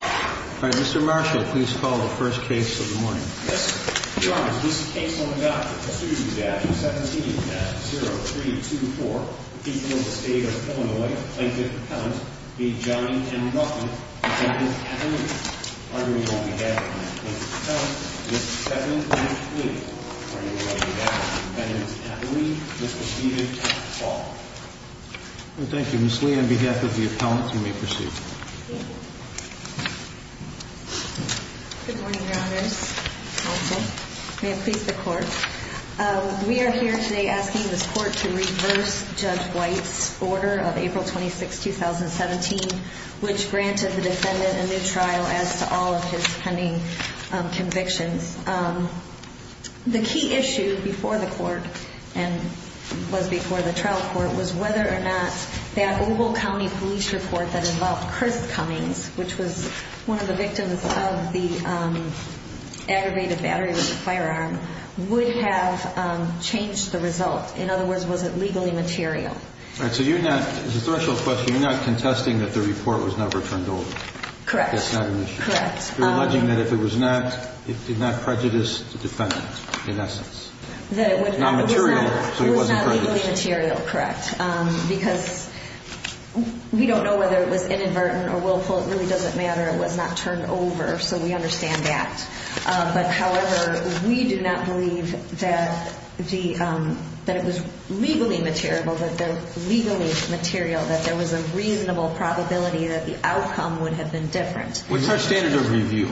Mr. Marshall, please call the first case of the morning. Yes, sir. Your Honor, this case on the doctor. Pursuant to statute 17-0324, the people of the state of Illinois, plaintiff's appellant, be John M. Ruffin, defendant's attorney. Honorable on behalf of the plaintiff's appellant, Ms. Bethany Lee. Honorable on behalf of the defendant's attorney, Mr. Stephen Paul. Thank you. Ms. Lee, on behalf of the appellant, you may proceed. Thank you. Good morning, Your Honor. Counsel. May it please the court. We are here today asking this court to reverse Judge White's order of April 26, 2017, which granted the defendant a new trial as to all of his pending convictions. The key issue before the court and was before the trial court was whether or not that Oval County police report that involved Chris Cummings, which was one of the victims of the aggravated battery with the firearm, would have changed the result. In other words, was it legally material? All right. So you're not, as a threshold question, you're not contesting that the report was never turned over. Correct. That's not an issue. Correct. You're alleging that if it was not, it did not prejudice the defendant, in essence. That it would not. It was not material, so it wasn't prejudiced. It wasn't really material, correct. Because we don't know whether it was inadvertent or willful. It really doesn't matter. It was not turned over, so we understand that. But, however, we do not believe that it was legally material, that there was a reasonable probability that the outcome would have been different. What's our standard of review?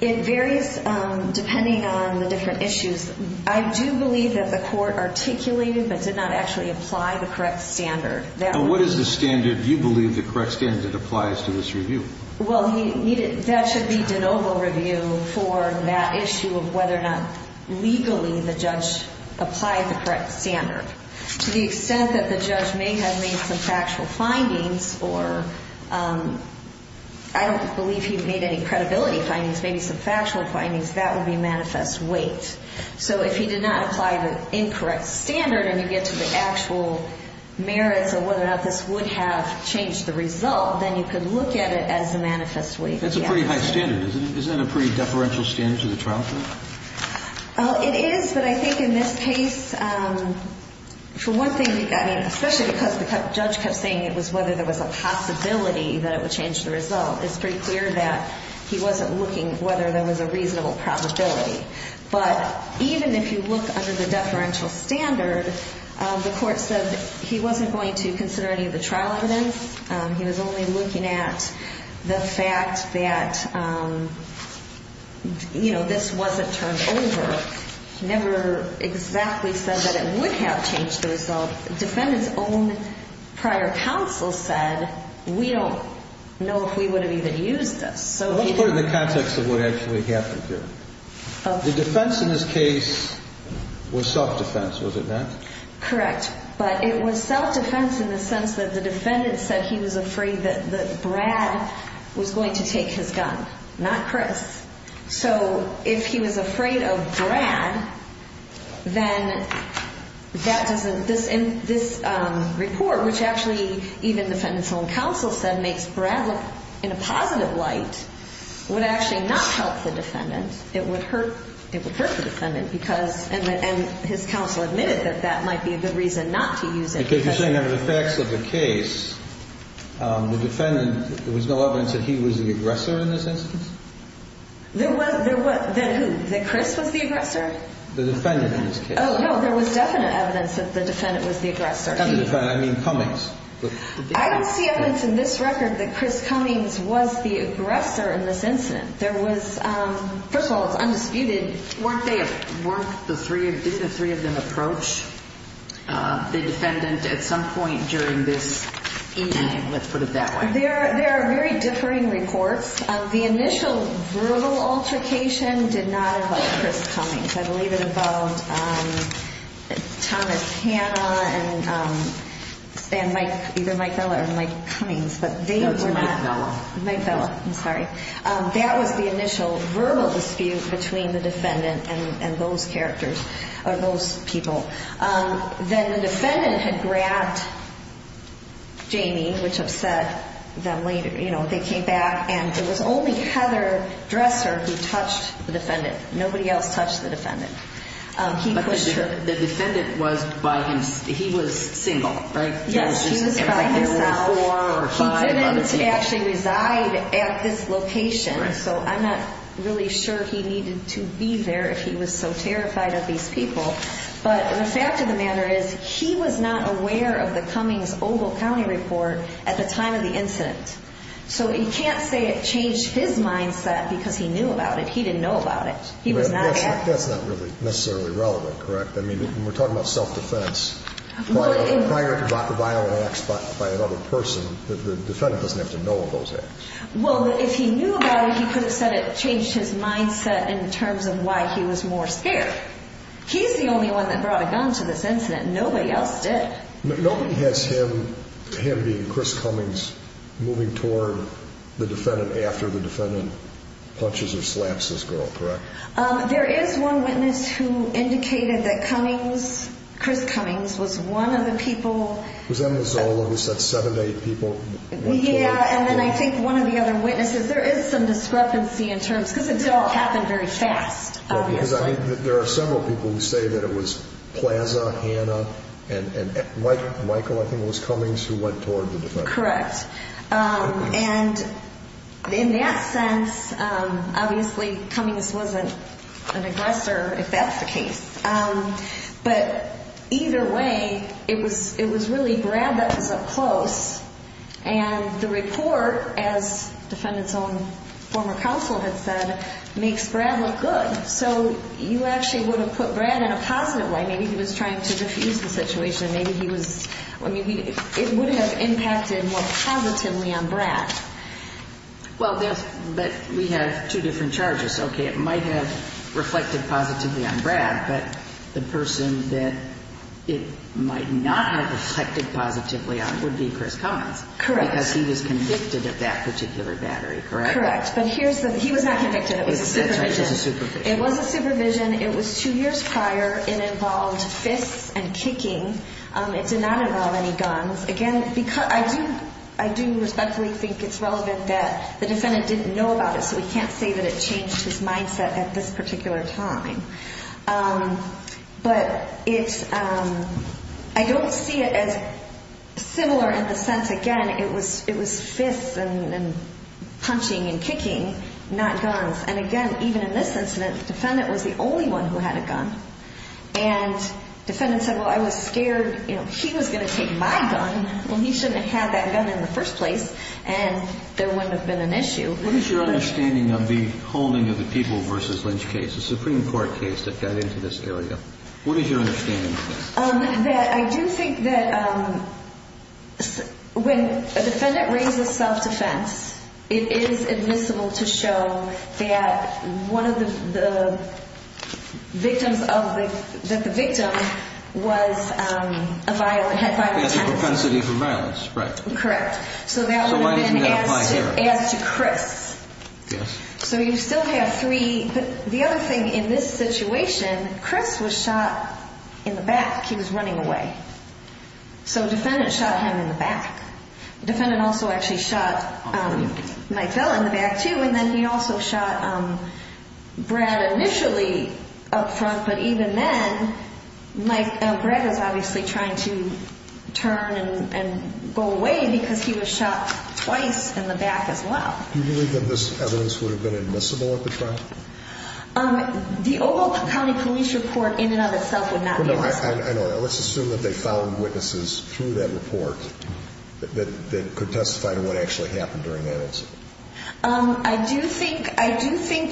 It varies depending on the different issues. I do believe that the court articulated but did not actually apply the correct standard. What is the standard you believe the correct standard that applies to this review? Well, that should be de novo review for that issue of whether or not legally the judge applied the correct standard. To the extent that the judge may have made some factual findings, or I don't believe he made any credibility findings, maybe some factual findings, that would be manifest weight. So if he did not apply the incorrect standard and you get to the actual merits of whether or not this would have changed the result, then you could look at it as a manifest weight. That's a pretty high standard, isn't it? Isn't that a pretty deferential standard to the trial court? It is, but I think in this case, for one thing, especially because the judge kept saying it was whether there was a possibility that it would change the result, it's pretty clear that he wasn't looking whether there was a reasonable probability. But even if you look under the deferential standard, the court said he wasn't going to consider any of the trial evidence. He was only looking at the fact that this wasn't turned over. He never exactly said that it would have changed the result. The defendant's own prior counsel said, we don't know if we would have even used this. Let's put it in the context of what actually happened here. The defense in this case was self-defense, was it not? Correct. But it was self-defense in the sense that the defendant said he was afraid that Brad was going to take his gun, not Chris. So if he was afraid of Brad, then that doesn't – this report, which actually even the defendant's own counsel said makes Brad look in a positive light, would actually not help the defendant. It would hurt the defendant because – and his counsel admitted that that might be a good reason not to use it. Because you're saying under the facts of the case, the defendant – there was no evidence that he was the aggressor in this instance? There was – that who? That Chris was the aggressor? The defendant in this case. Oh, no, there was definite evidence that the defendant was the aggressor. Not the defendant, I mean Cummings. I don't see evidence in this record that Chris Cummings was the aggressor in this incident. There was – first of all, it's undisputed. Weren't they – didn't the three of them approach the defendant at some point during this incident? Let's put it that way. There are very differing reports. The initial verbal altercation did not involve Chris Cummings. I believe it involved Thomas Hanna and either Mike Bella or Mike Cummings. No, it was Mike Bella. Mike Bella, I'm sorry. That was the initial verbal dispute between the defendant and those characters or those people. Then the defendant had grabbed Jamie, which upset them later. You know, they came back, and it was only Heather Dresser who touched the defendant. Nobody else touched the defendant. He pushed her. But the defendant was by himself. He was single, right? Yes, he was by himself. There were four or five other people. He didn't actually reside at this location, so I'm not really sure he needed to be there if he was so terrified of these people. But the fact of the matter is he was not aware of the Cummings-Ogle County report at the time of the incident. So you can't say it changed his mindset because he knew about it. He didn't know about it. He was not aware. That's not really necessarily relevant, correct? I mean, we're talking about self-defense. Prior to violent acts by another person, the defendant doesn't have to know of those acts. Well, if he knew about it, he could have said it changed his mindset in terms of why he was more scared. He's the only one that brought a gun to this incident. Nobody else did. Nobody has him, him being Chris Cummings, moving toward the defendant after the defendant punches or slaps this girl, correct? There is one witness who indicated that Cummings, Chris Cummings, was one of the people. It was Emma Zola who said seven to eight people went toward the defendant. Yeah, and then I think one of the other witnesses, there is some discrepancy in terms, because it didn't all happen very fast, obviously. There are several people who say that it was Plaza, Hannah, and Michael, I think it was Cummings, who went toward the defendant. Correct. And in that sense, obviously, Cummings wasn't an aggressor, if that's the case. But either way, it was really Brad that was up close. And the report, as the defendant's own former counsel had said, makes Brad look good. So you actually would have put Brad in a positive light. Maybe he was trying to diffuse the situation. It would have impacted more positively on Brad. But we have two different charges. Okay, it might have reflected positively on Brad, but the person that it might not have reflected positively on would be Chris Cummings. Correct. Because he was convicted of that particular battery, correct? Correct. But he was not convicted. It was a supervision. It was a supervision. It was two years prior. It involved fists and kicking. It did not involve any guns. Again, I do respectfully think it's relevant that the defendant didn't know about it, so we can't say that it changed his mindset at this particular time. But I don't see it as similar in the sense, again, it was fists and punching and kicking, not guns. And, again, even in this incident, the defendant was the only one who had a gun. And the defendant said, well, I was scared he was going to take my gun. Well, he shouldn't have had that gun in the first place, and there wouldn't have been an issue. What is your understanding of the holding of the People v. Lynch case, the Supreme Court case that got into this area? What is your understanding of this? I do think that when a defendant raises self-defense, it is admissible to show that one of the victims of the ‑‑ that the victim was a violent ‑‑ Had a propensity for violence, right. Correct. So that would have been as to Chris. Yes. So you still have three. But the other thing in this situation, Chris was shot in the back. He was running away. So the defendant shot him in the back. The defendant also actually shot Mike Fella in the back, too, and then he also shot Brad initially up front. But even then, Brad was obviously trying to turn and go away because he was shot twice in the back as well. Do you believe that this evidence would have been admissible at the trial? The Oval County Police Report in and of itself would not be admissible. I know. Let's assume that they found witnesses through that report that could testify to what actually happened during that incident. I do think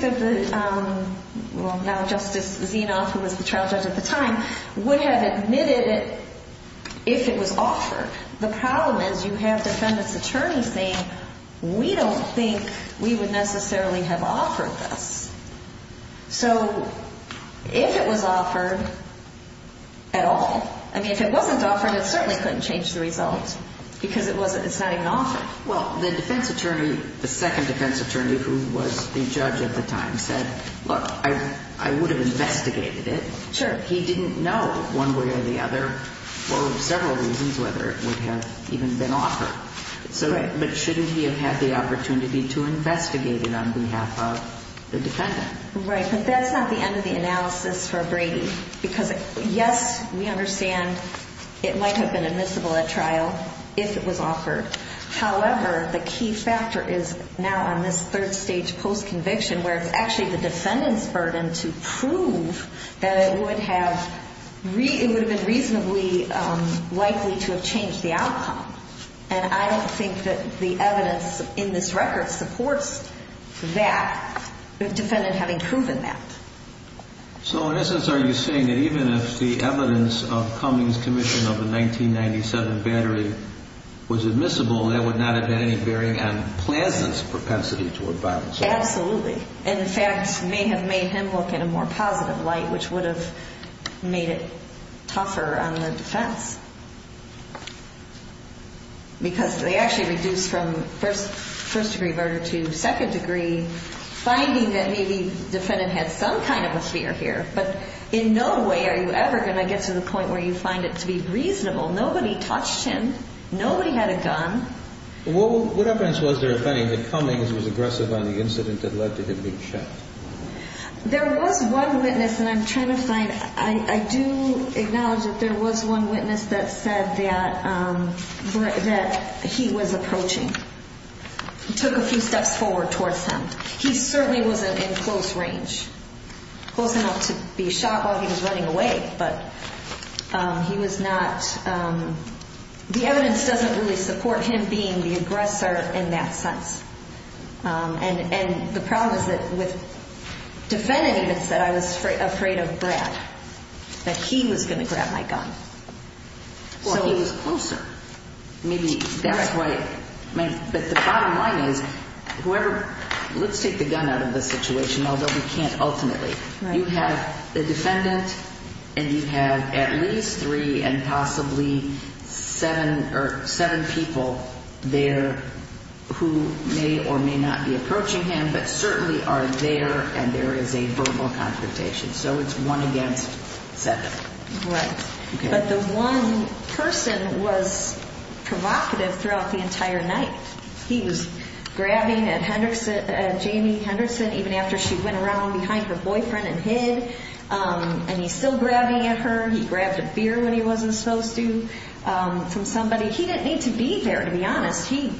that the ‑‑ well, now Justice Zinoff, who was the trial judge at the time, would have admitted it if it was offered. The problem is you have defendant's attorney saying we don't think we would necessarily have offered this. So if it was offered at all, I mean, if it wasn't offered, it certainly couldn't change the result because it's not even offered. Well, the defense attorney, the second defense attorney who was the judge at the time said, look, I would have investigated it. Sure. But he didn't know one way or the other for several reasons whether it would have even been offered. Right. But shouldn't he have had the opportunity to investigate it on behalf of the defendant? Right. But that's not the end of the analysis for Brady because, yes, we understand it might have been admissible at trial if it was offered. However, the key factor is now on this third stage postconviction where it's actually the defendant's burden to prove that it would have ‑‑ it would have been reasonably likely to have changed the outcome. And I don't think that the evidence in this record supports that, the defendant having proven that. So in essence, are you saying that even if the evidence of Cummings' commission of the 1997 battery was admissible, that would not have had any bearing on Plazza's propensity toward violence? Absolutely. And, in fact, may have made him look in a more positive light, which would have made it tougher on the defense. Because they actually reduced from first degree murder to second degree, finding that maybe the defendant had some kind of a fear here. But in no way are you ever going to get to the point where you find it to be reasonable. Nobody touched him. Nobody had a gun. What evidence was there of any that Cummings was aggressive on the incident that led to him being shot? There was one witness that I'm trying to find. I do acknowledge that there was one witness that said that he was approaching, took a few steps forward towards him. He certainly wasn't in close range, close enough to be shot while he was running away. But he was not ‑‑ the evidence doesn't really support him being the aggressor in that sense. And the problem is that with defendants that said I was afraid of Brad, that he was going to grab my gun. So he was closer. Maybe that's why. But the bottom line is, whoever ‑‑ let's take the gun out of the situation, although we can't ultimately. You have the defendant and you have at least three and possibly seven people there who may or may not be approaching him, but certainly are there and there is a verbal confrontation. So it's one against seven. Right. But the one person was provocative throughout the entire night. He was grabbing at Jamie Henderson even after she went around behind her boyfriend and hid. And he's still grabbing at her. He grabbed a beer when he wasn't supposed to from somebody. He didn't need to be there, to be honest. He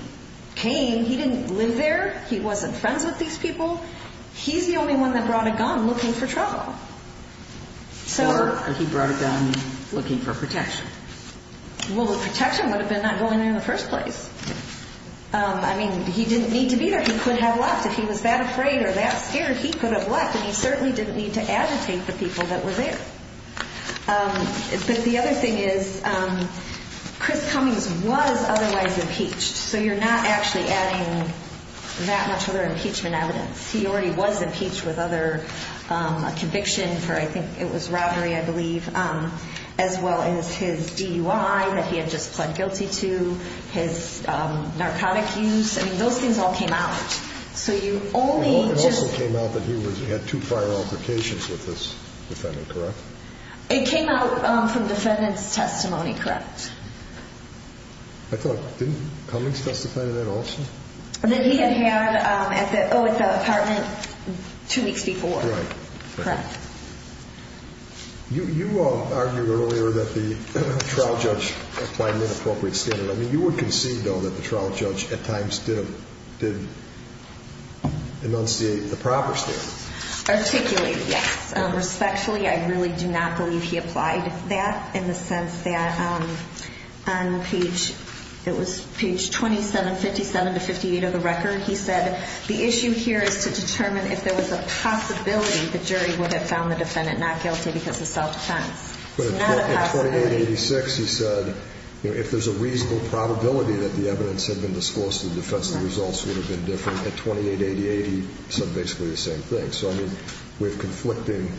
came. He didn't live there. He wasn't friends with these people. He's the only one that brought a gun looking for trouble. Or he brought a gun looking for protection. Well, the protection would have been not going there in the first place. I mean, he didn't need to be there. He could have left. If he was that afraid or that scared, he could have left. And he certainly didn't need to agitate the people that were there. But the other thing is, Chris Cummings was otherwise impeached. So you're not actually adding that much other impeachment evidence. He already was impeached with a conviction for, I think it was robbery, I believe, as well as his DUI that he had just pled guilty to, his narcotic use. I mean, those things all came out. It also came out that he had two prior altercations with this defendant, correct? It came out from defendant's testimony, correct. Didn't Cummings testify to that also? That he had had at the apartment two weeks before. Right. Correct. You argued earlier that the trial judge applied an inappropriate standard. I mean, you would concede, though, that the trial judge at times did enunciate the proper standard. Articulated, yes. Respectfully, I really do not believe he applied that in the sense that on page, it was page 2757 to 58 of the record, he said, the issue here is to determine if there was a possibility the jury would have found the defendant not guilty because of self-defense. It's not a possibility. But at 2886, he said, you know, if there's a reasonable probability that the evidence had been disclosed to the defense, the results would have been different. At 2888, he said basically the same thing. So, I mean, we have conflicting.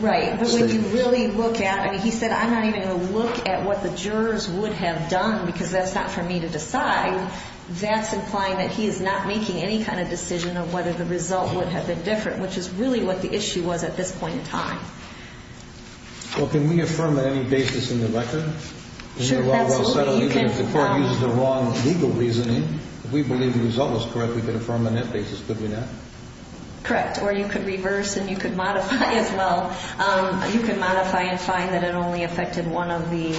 Right. But when you really look at, I mean, he said, I'm not even going to look at what the jurors would have done because that's not for me to decide. That's implying that he is not making any kind of decision of whether the result would have been different, which is really what the issue was at this point in time. Well, can we affirm on any basis in the record? Sure. If the court uses the wrong legal reasoning, if we believe the result was correct, we could affirm on that basis, could we not? Correct. Or you could reverse and you could modify as well. You can modify and find that it only affected one of the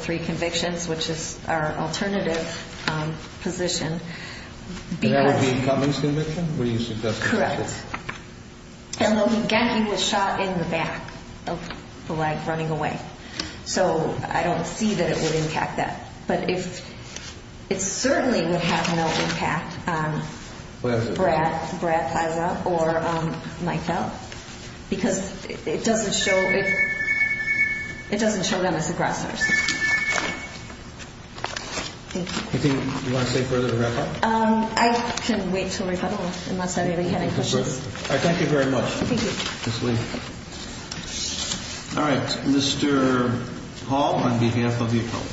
three convictions, which is our alternative position. And that would be Cummings' conviction? Correct. And again, he was shot in the back of the leg running away. So I don't see that it would impact that. But it certainly would have no impact on Brad Fiza or Michael because it doesn't show them as the grasshoppers. Thank you. Anything you want to say further to wrap up? I can wait until we're done unless anybody had any questions. All right. Thank you very much. Thank you. All right. Next, Mr. Hall on behalf of the appellant.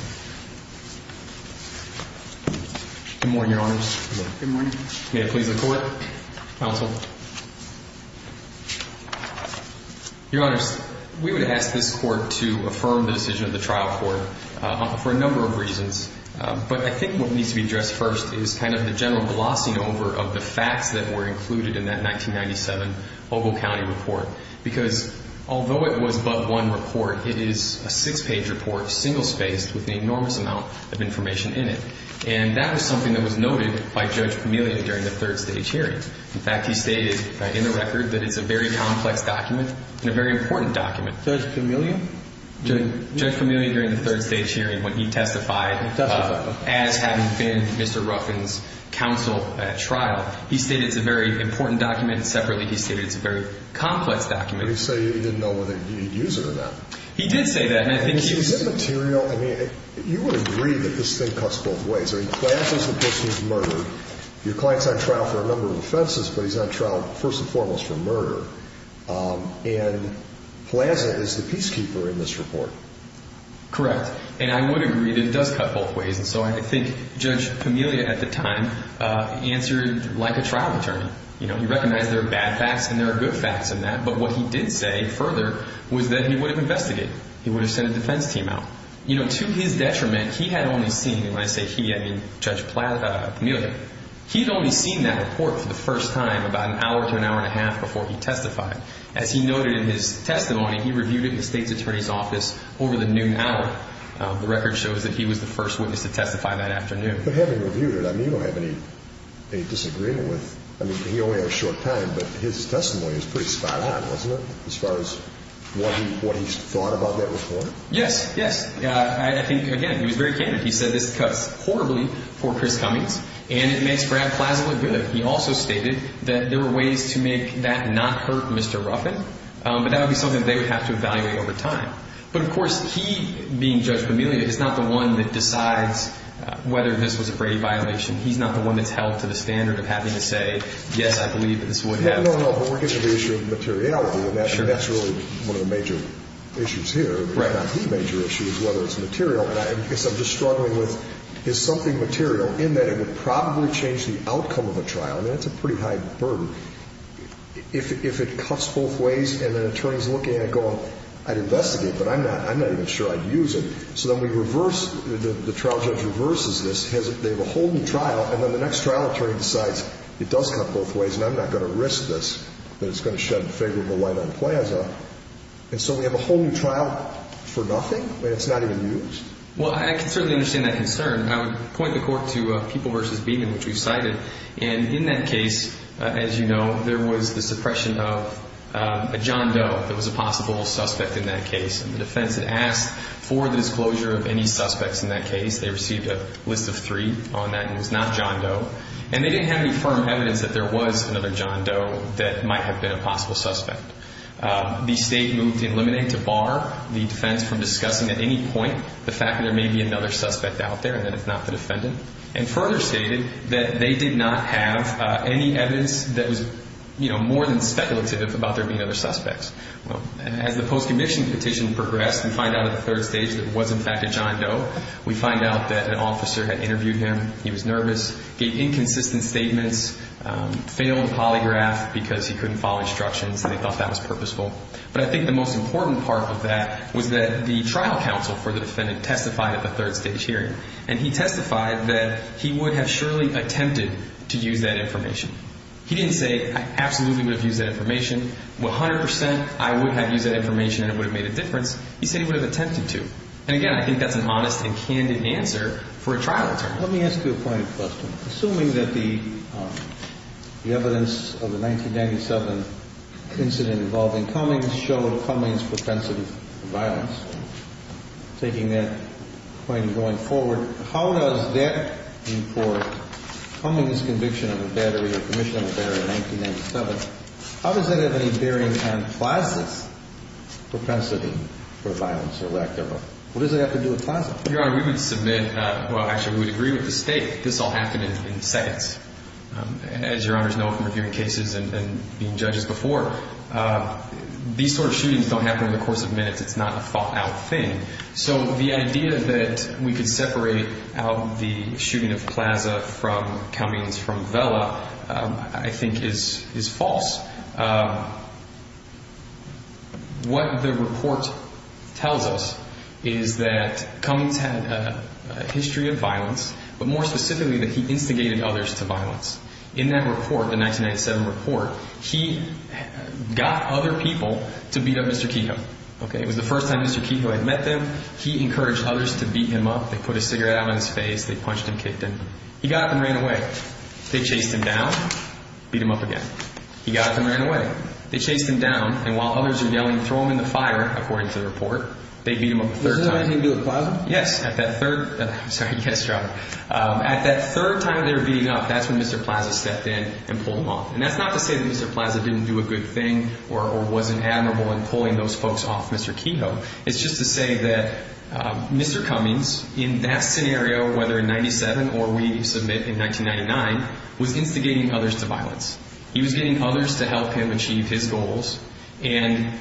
Good morning, Your Honors. Good morning. May it please the Court. Counsel. Your Honors, we would ask this Court to affirm the decision of the trial court for a number of reasons. But I think what needs to be addressed first is kind of the general glossing over of the facts that were included in that 1997 Bogle County report. Because although it was but one report, it is a six-page report, single-spaced, with an enormous amount of information in it. And that was something that was noted by Judge Famiglia during the third stage hearing. In fact, he stated in the record that it's a very complex document and a very important document. Judge Famiglia? Judge Famiglia, during the third stage hearing, when he testified as having been Mr. Ruffin's counsel at trial, he stated it's a very important document. Separately, he stated it's a very complex document. He didn't say he didn't know whether he'd use it or not. He did say that. Is it material? I mean, you would agree that this thing cuts both ways. I mean, Plaza's the person who's murdered. Your client's on trial for a number of offenses, but he's on trial, first and foremost, for murder. And Plaza is the peacekeeper in this report. Correct. And I would agree that it does cut both ways. And so I think Judge Famiglia at the time answered like a trial attorney. You know, he recognized there are bad facts and there are good facts in that, but what he did say further was that he would have investigated. He would have sent a defense team out. You know, to his detriment, he had only seen, and when I say he, I mean Judge Famiglia, he'd only seen that report for the first time about an hour to an hour and a half before he testified. As he noted in his testimony, he reviewed it in the state's attorney's office over the noon hour. The record shows that he was the first witness to testify that afternoon. But having reviewed it, I mean, you don't have any disagreement with, I mean, he only had a short time, but his testimony was pretty spot on, wasn't it, as far as what he thought about that report? Yes, yes. I think, again, he was very candid. He said this cuts horribly for Chris Cummings and it makes Brad Plaza look good. He also stated that there were ways to make that not hurt Mr. Ruffin, but that would be something they would have to evaluate over time. But, of course, he, being Judge Famiglia, is not the one that decides whether this was a Brady violation. He's not the one that's held to the standard of having to say, yes, I believe that this would have. No, no, but we're getting to the issue of materiality, and that's really one of the major issues here. Right. Not the major issue is whether it's material. I guess I'm just struggling with is something material in that it would probably change the outcome of a trial. I mean, that's a pretty high burden. If it cuts both ways and an attorney's looking at it going, I'd investigate, but I'm not even sure I'd use it. So then we reverse, the trial judge reverses this. They have a whole new trial, and then the next trial attorney decides it does cut both ways, and I'm not going to risk this, that it's going to shed favorable light on Plaza. And so we have a whole new trial for nothing, and it's not even used? Well, I can certainly understand that concern. I would point the court to People v. Beeman, which we cited. And in that case, as you know, there was the suppression of a John Doe that was a possible suspect in that case. And the defense had asked for the disclosure of any suspects in that case. They received a list of three on that, and it was not John Doe. And they didn't have any firm evidence that there was another John Doe that might have been a possible suspect. The state moved to eliminate, to bar the defense from discussing at any point the fact that there may be another suspect out there, and that it's not the defendant. And further stated that they did not have any evidence that was, you know, more than speculative about there being other suspects. As the post-conviction petition progressed, we find out at the third stage that it was, in fact, a John Doe. We find out that an officer had interviewed him. He was nervous, gave inconsistent statements, failed to polygraph because he couldn't follow instructions, and they thought that was purposeful. But I think the most important part of that was that the trial counsel for the defendant testified at the third stage hearing, and he testified that he would have surely attempted to use that information. He didn't say, I absolutely would have used that information. 100% I would have used that information and it would have made a difference. He said he would have attempted to. And, again, I think that's an honest and candid answer for a trial attorney. Let me ask you a pointed question. Assuming that the evidence of the 1997 incident involving Cummings showed Cummings' propensity for violence, taking that point and going forward, how does that import Cummings' conviction of a battery or commission of a battery in 1997, how does that have any bearing on Plaza's propensity for violence or lack thereof? What does that have to do with Plaza? Your Honor, we would submit ñ well, actually, we would agree with the State this all happened in seconds. As Your Honors know from reviewing cases and being judges before, these sort of shootings don't happen in the course of minutes. It's not a thought-out thing. So the idea that we could separate out the shooting of Plaza from Cummings from Vela I think is false. What the report tells us is that Cummings had a history of violence, but more specifically that he instigated others to violence. In that report, the 1997 report, he got other people to beat up Mr. Kiko. It was the first time Mr. Kiko had met them. He encouraged others to beat him up. They put a cigarette out on his face. They punched him, kicked him. He got up and ran away. They chased him down, beat him up again. He got up and ran away. They chased him down. And while others are yelling, throw him in the fire, according to the report, they beat him up a third time. Was this anything to do with Plaza? Yes. At that third ñ sorry, yes, Your Honor. At that third time they were beating him up, that's when Mr. Plaza stepped in and pulled him off. And that's not to say that Mr. Plaza didn't do a good thing or wasn't admirable in pulling those folks off Mr. Kiko. It's just to say that Mr. Cummings, in that scenario, whether in 97 or we submit in 1999, was instigating others to violence. He was getting others to help him achieve his goals, and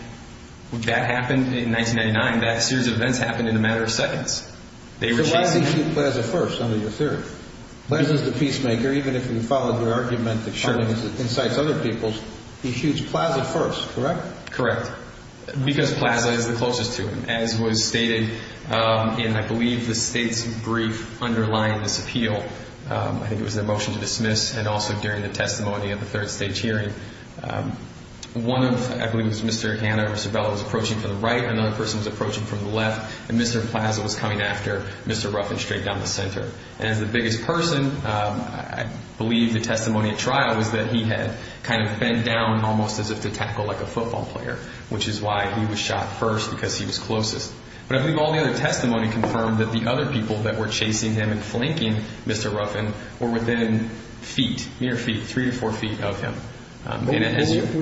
that happened in 1999. That series of events happened in a matter of seconds. So why does he shoot Plaza first, under your theory? Plaza is the peacemaker. Even if we followed your argument that Cummings incites other peoples, he shoots Plaza first, correct? Correct. Because Plaza is the closest to him, as was stated in, I believe, the state's brief underlying this appeal. I think it was their motion to dismiss, and also during the testimony at the third stage hearing. One of, I believe it was Mr. Hanna or Sabella, was approaching from the right. Another person was approaching from the left, and Mr. Plaza was coming after Mr. Ruffin straight down the center. And as the biggest person, I believe the testimony at trial was that he had kind of bent down almost as if to tackle like a football player, which is why he was shot first, because he was closest. But I believe all the other testimony confirmed that the other people that were chasing him and flanking Mr. Ruffin were within feet, mere feet, three to four feet of him. We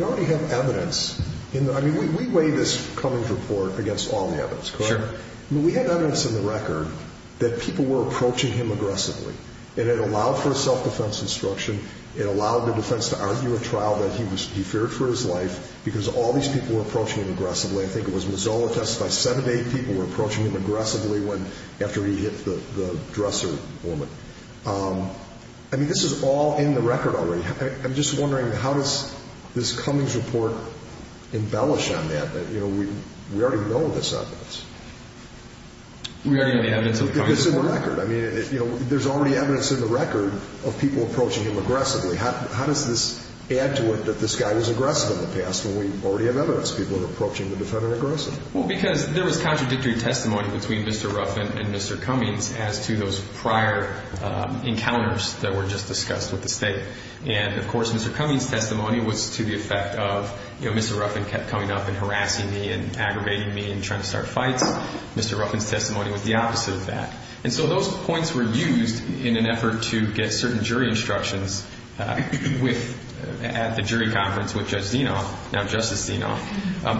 already have evidence. I mean, we weigh this Cummings report against all the evidence, correct? Sure. We had evidence in the record that people were approaching him aggressively. And it allowed for a self-defense instruction. It allowed the defense to argue at trial that he feared for his life, because all these people were approaching him aggressively. I think it was Mazola testified seven to eight people were approaching him aggressively after he hit the dresser woman. I mean, this is all in the record already. I'm just wondering, how does this Cummings report embellish on that, that we already know this evidence? We already have the evidence in the record. It's in the record. I mean, there's already evidence in the record of people approaching him aggressively. How does this add to it that this guy was aggressive in the past when we already have evidence of people approaching the defendant aggressively? Well, because there was contradictory testimony between Mr. Ruffin and Mr. Cummings as to those prior encounters that were just discussed with the state. And, of course, Mr. Cummings' testimony was to the effect of, you know, Mr. Ruffin kept coming up and harassing me and aggravating me and trying to start fights. Mr. Ruffin's testimony was the opposite of that. And so those points were used in an effort to get certain jury instructions at the jury conference with Judge Zinoff, now Justice Zinoff.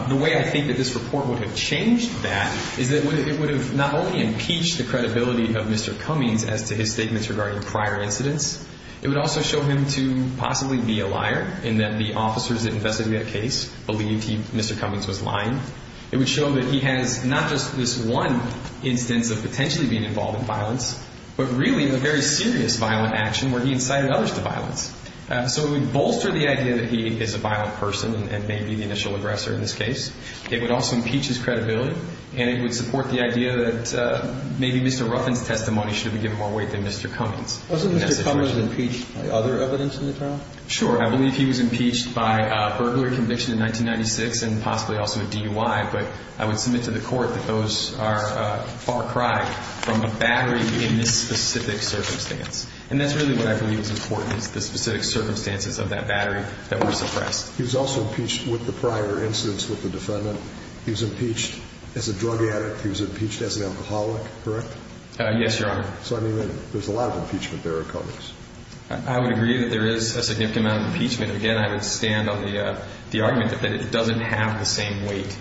The way I think that this report would have changed that is that it would have not only impeached the credibility of Mr. Cummings as to his statements regarding prior incidents. It would also show him to possibly be a liar in that the officers that investigated that case believed Mr. Cummings was lying. It would show that he has not just this one instance of potentially being involved in violence, but really a very serious violent action where he incited others to violence. So it would bolster the idea that he is a violent person and may be the initial aggressor in this case. It would also impeach his credibility. And it would support the idea that maybe Mr. Ruffin's testimony should be given more weight than Mr. Cummings. Wasn't Mr. Cummings impeached by other evidence in the trial? Sure. I believe he was impeached by a burglary conviction in 1996 and possibly also a DUI. But I would submit to the Court that those are far cry from a battery in this specific circumstance. And that's really what I believe is important is the specific circumstances of that battery that were suppressed. He was also impeached with the prior incidents with the defendant. He was impeached as a drug addict. He was impeached as an alcoholic, correct? Yes, Your Honor. So, I mean, there's a lot of impeachment there in Cummings. I would agree that there is a significant amount of impeachment. Again, I would stand on the argument that it doesn't have the same weight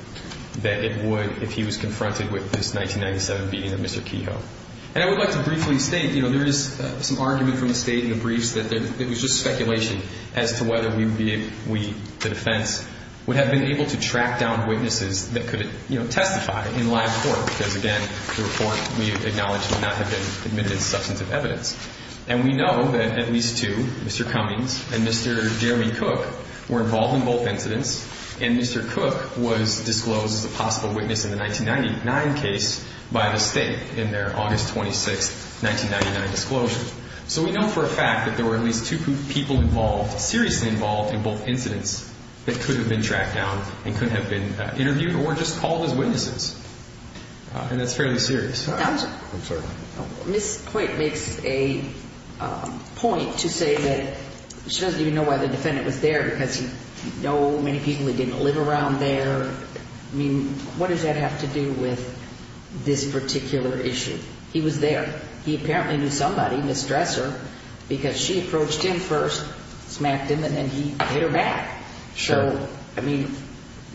that it would if he was confronted with this 1997 beating of Mr. Kehoe. And I would like to briefly state, you know, there is some argument from the State in the briefs that it was just speculation as to whether we, the defense, would have been able to track down witnesses that could, you know, testify in live court. Because, again, the report we acknowledge would not have been admitted as substantive evidence. And we know that at least two, Mr. Cummings and Mr. Jeremy Cook, were involved in both incidents. And Mr. Cook was disclosed as a possible witness in the 1999 case by the State in their August 26, 1999 disclosure. So, we know for a fact that there were at least two people involved, seriously involved in both incidents that could have been tracked down and could have been interviewed or just called as witnesses. And that's fairly serious. I'm sorry. Ms. Poit makes a point to say that she doesn't even know why the defendant was there because you know many people that didn't live around there. I mean, what does that have to do with this particular issue? He was there. He apparently knew somebody, Ms. Dresser, because she approached him first, smacked him, and he hit her back. Sure. So, I mean,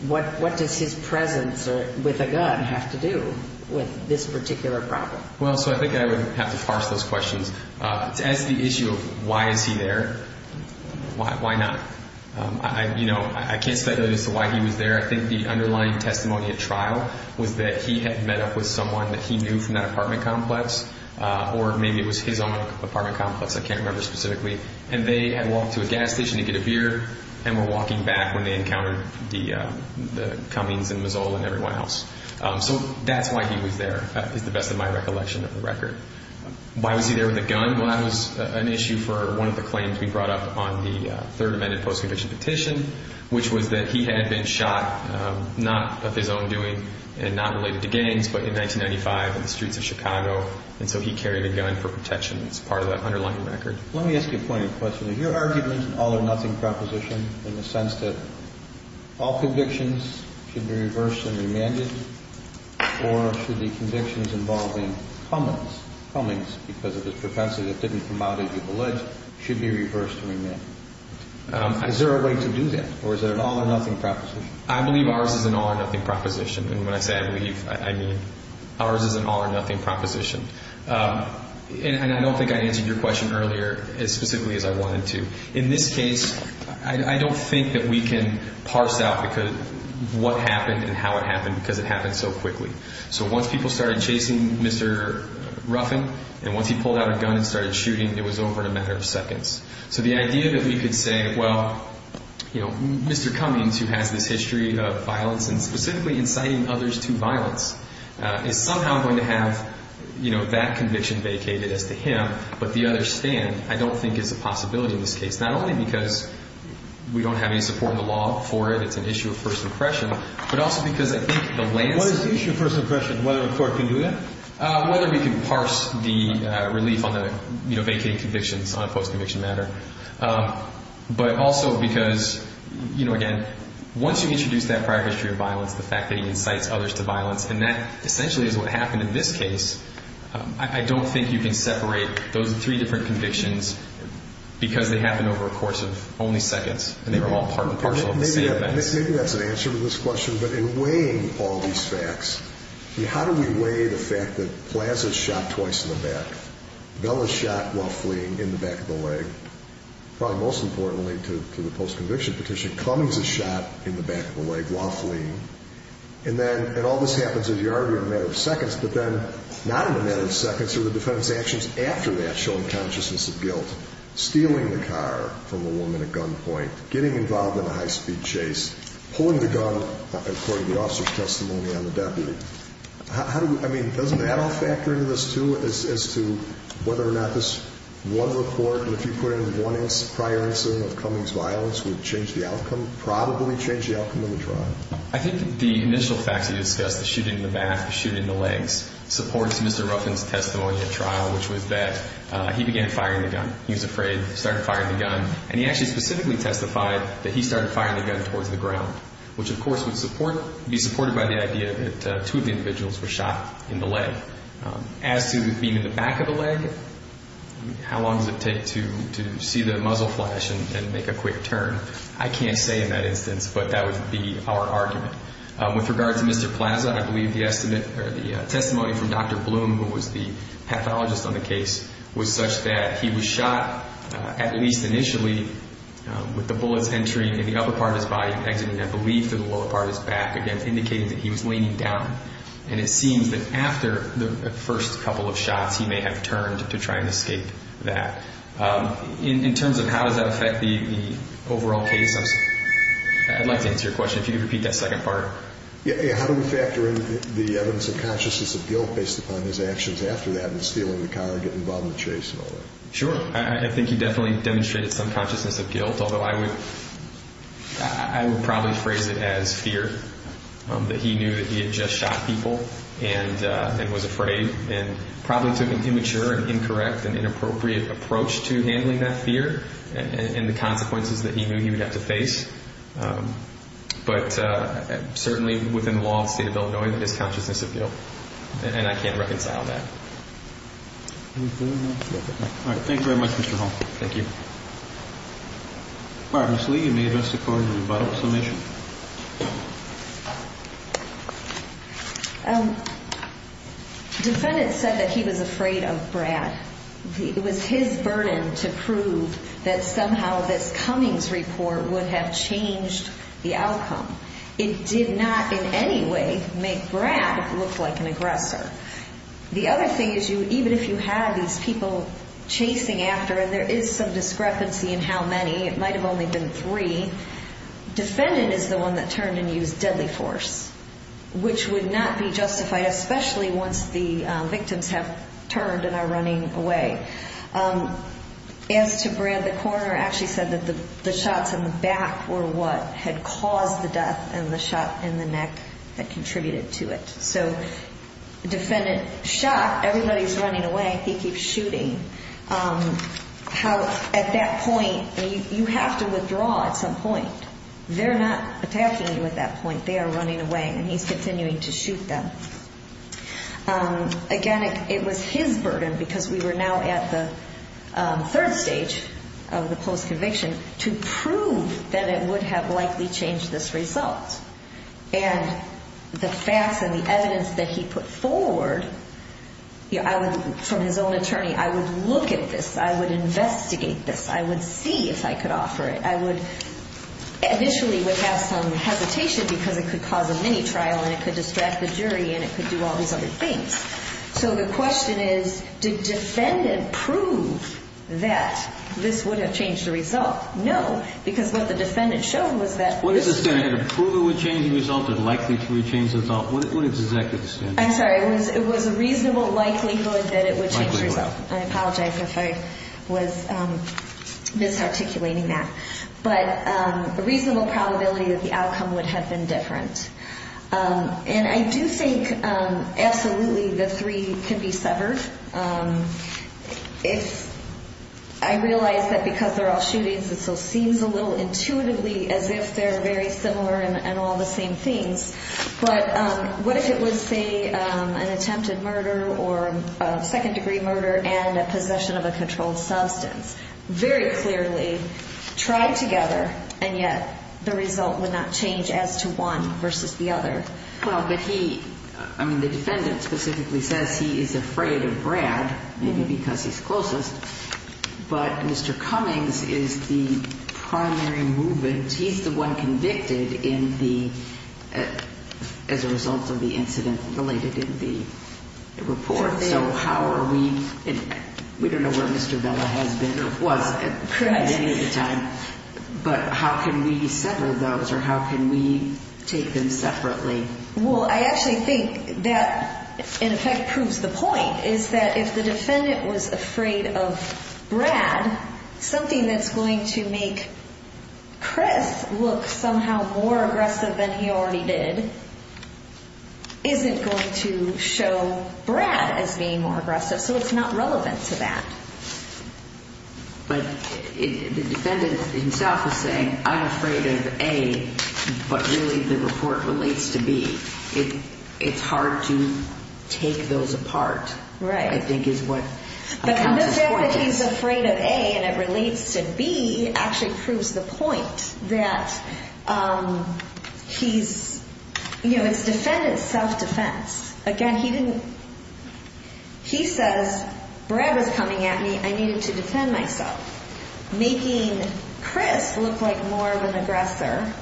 what does his presence with a gun have to do with this particular problem? Well, so I think I would have to parse those questions. To answer the issue of why is he there, why not? You know, I can't speculate as to why he was there. I think the underlying testimony at trial was that he had met up with someone that he knew from that apartment complex or maybe it was his own apartment complex. I can't remember specifically. And they had walked to a gas station to get a beer and were walking back when they encountered the Cummings and Mazzola and everyone else. So, that's why he was there is the best of my recollection of the record. Why was he there with a gun? Well, that was an issue for one of the claims we brought up on the Third Amendment post-conviction petition, which was that he had been shot, not of his own doing and not related to gangs, but in 1995 in the streets of Chicago. And so he carried a gun for protection as part of that underlying record. Let me ask you a point of question. Is your argument an all-or-nothing proposition in the sense that all convictions should be reversed and remanded or should the convictions involving Cummings because of his propensity that didn't come out as you've alleged should be reversed and remanded? Is there a way to do that or is it an all-or-nothing proposition? I believe ours is an all-or-nothing proposition. And when I say I believe, I mean ours is an all-or-nothing proposition. And I don't think I answered your question earlier as specifically as I wanted to. In this case, I don't think that we can parse out what happened and how it happened because it happened so quickly. So once people started chasing Mr. Ruffin and once he pulled out a gun and started shooting, it was over in a matter of seconds. So the idea that we could say, well, you know, Mr. Cummings, who has this history of violence and specifically inciting others to violence, is somehow going to have, you know, that conviction vacated as to him, but the others stand, I don't think is a possibility in this case. Not only because we don't have any support in the law for it. It's an issue of first impression, but also because I think the latest… What is the issue of first impression? Whether a court can do that? Whether we can parse the relief on the, you know, vacating convictions on a post-conviction matter. But also because, you know, again, once you introduce that prior history of violence, the fact that he incites others to violence, and that essentially is what happened in this case, I don't think you can separate those three different convictions because they happened over a course of only seconds and they were all part and parcel of the same event. Maybe that's an answer to this question, but in weighing all these facts, how do we weigh the fact that Plaza is shot twice in the back, Bella is shot while fleeing in the back of the leg, probably most importantly to the post-conviction petition, Cummings is shot in the back of the leg while fleeing, and then, and all this happens, as you argued, in a matter of seconds, but then not in a matter of seconds are the defendant's actions after that showing consciousness of guilt. Stealing the car from a woman at gunpoint, getting involved in a high-speed chase, pulling the gun according to the officer's testimony on the deputy. I mean, doesn't that all factor into this, too, as to whether or not this one report, and if you put in one prior incident of Cummings' violence, would change the outcome, probably change the outcome of the trial? I think the initial facts you discussed, the shooting in the back, the shooting in the legs, supports Mr. Ruffin's testimony at trial, which was that he began firing the gun. He was afraid, started firing the gun, and he actually specifically testified be supported by the idea that two of the individuals were shot in the leg. As to being in the back of the leg, how long does it take to see the muzzle flash and make a quick turn? I can't say in that instance, but that would be our argument. With regard to Mr. Plaza, I believe the estimate, or the testimony from Dr. Bloom, who was the pathologist on the case, was such that he was shot, at least initially, with the bullets entering in the upper part of his body, exiting, I believe, through the lower part of his back, again, indicating that he was leaning down. And it seems that after the first couple of shots, he may have turned to try and escape that. In terms of how does that affect the overall case, I'd like to answer your question. If you could repeat that second part. Yeah, how do we factor in the evidence of consciousness of guilt based upon his actions after that and stealing the car and getting involved in the chase and all that? Sure. I think he definitely demonstrated some consciousness of guilt, although I would probably phrase it as fear that he knew that he had just shot people and was afraid and probably took an immature and incorrect and inappropriate approach to handling that fear and the consequences that he knew he would have to face. But certainly within the law and state of Illinois, that is consciousness of guilt, and I can't reconcile that. All right. Thank you very much, Mr. Hall. Thank you. All right, Ms. Lee, you may address the court in a final summation. The defendant said that he was afraid of Brad. It was his burden to prove that somehow this Cummings report would have changed the outcome. It did not in any way make Brad look like an aggressor. The other thing is even if you have these people chasing after, and there is some discrepancy in how many, it might have only been three, defendant is the one that turned and used deadly force, which would not be justified, especially once the victims have turned and are running away. As to Brad, the coroner actually said that the shots in the back were what had caused the death, and the shot in the neck had contributed to it. So the defendant shot. Everybody is running away. He keeps shooting. At that point, you have to withdraw at some point. They're not attacking you at that point. They are running away, and he's continuing to shoot them. Again, it was his burden, because we were now at the third stage of the post-conviction, to prove that it would have likely changed this result. And the facts and the evidence that he put forward, from his own attorney, I would look at this. I would investigate this. I would see if I could offer it. I initially would have some hesitation because it could cause a mini-trial, and it could distract the jury, and it could do all these other things. So the question is, did defendant prove that this would have changed the result? No, because what the defendant showed was that What is the standard? To prove it would change the result or likely to change the result? What is the standard? I'm sorry. It was a reasonable likelihood that it would change the result. I apologize if I was misarticulating that. But a reasonable probability that the outcome would have been different. And I do think absolutely the three can be severed. I realize that because they're all shootings, it still seems a little intuitively as if they're very similar and all the same things. But what if it was, say, an attempted murder or a second-degree murder and a possession of a controlled substance? Very clearly tried together, and yet the result would not change as to one versus the other. Well, but he – I mean, the defendant specifically says he is afraid of Brad, maybe because he's closest. But Mr. Cummings is the primary movement. He's the one convicted in the – as a result of the incident related in the report. So how are we – we don't know where Mr. Vela has been or was at any time. But how can we sever those or how can we take them separately? Well, I actually think that, in effect, proves the point, is that if the defendant was afraid of Brad, something that's going to make Chris look somehow more aggressive than he already did isn't going to show Brad as being more aggressive. So it's not relevant to that. But the defendant himself is saying, I'm afraid of A, but really the report relates to B. It's hard to take those apart. Right. I think is what – But the fact that he's afraid of A and it relates to B actually proves the point that he's – you know, it's defendant self-defense. Again, he didn't – he says, Brad was coming at me. I needed to defend myself. Making Chris look like more of an aggressor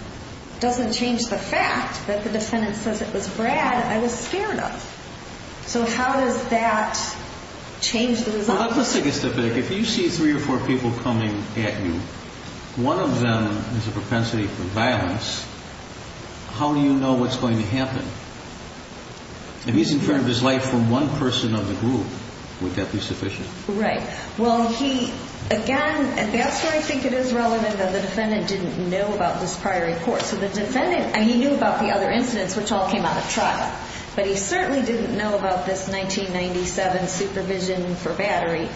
doesn't change the fact that the defendant says it was Brad I was scared of. So how does that change the result? Well, let's take a step back. If you see three or four people coming at you, one of them has a propensity for violence, how do you know what's going to happen? If he's in front of his life from one person of the group, would that be sufficient? Right. Well, he – again, that's where I think it is relevant that the defendant didn't know about this prior report. So the defendant – I mean, he knew about the other incidents, which all came out of trial. But he certainly didn't know about this 1997 supervision for battery.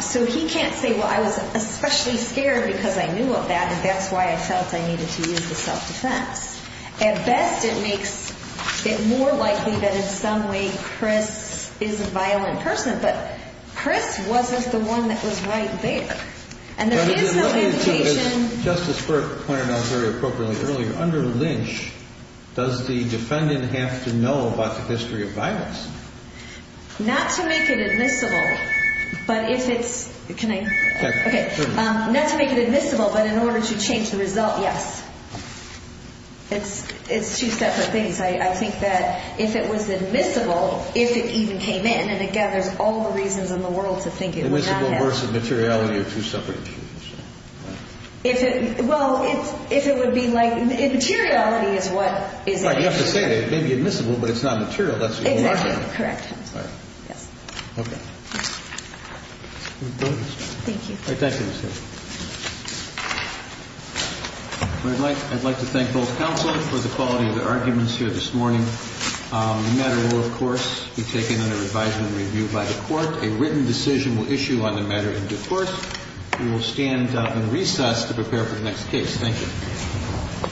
So he can't say, well, I was especially scared because I knew of that and that's why I felt I needed to use the self-defense. At best, it makes it more likely that in some way Chris is a violent person. But Chris wasn't the one that was right there. And there is no indication. Justice Burke pointed out very appropriately earlier, under Lynch, does the defendant have to know about the history of violence? Not to make it admissible, but if it's – can I – okay. Not to make it admissible, but in order to change the result, yes. It's two separate things. I think that if it was admissible, if it even came in and it gathers all the reasons in the world to think it would not have – Admissible versus materiality are two separate issues. If it – well, if it would be like – materiality is what – Right. You have to say it. It may be admissible, but it's not material. That's what you're arguing. Exactly. Correct. All right. Yes. Okay. Thank you. All right. Thank you, Ms. Hill. I'd like to thank both counsel for the quality of their arguments here this morning. The matter will, of course, be taken under advisement and review by the Court. A written decision will issue on the matter in due course. We will stand in recess to prepare for the next case. Thank you.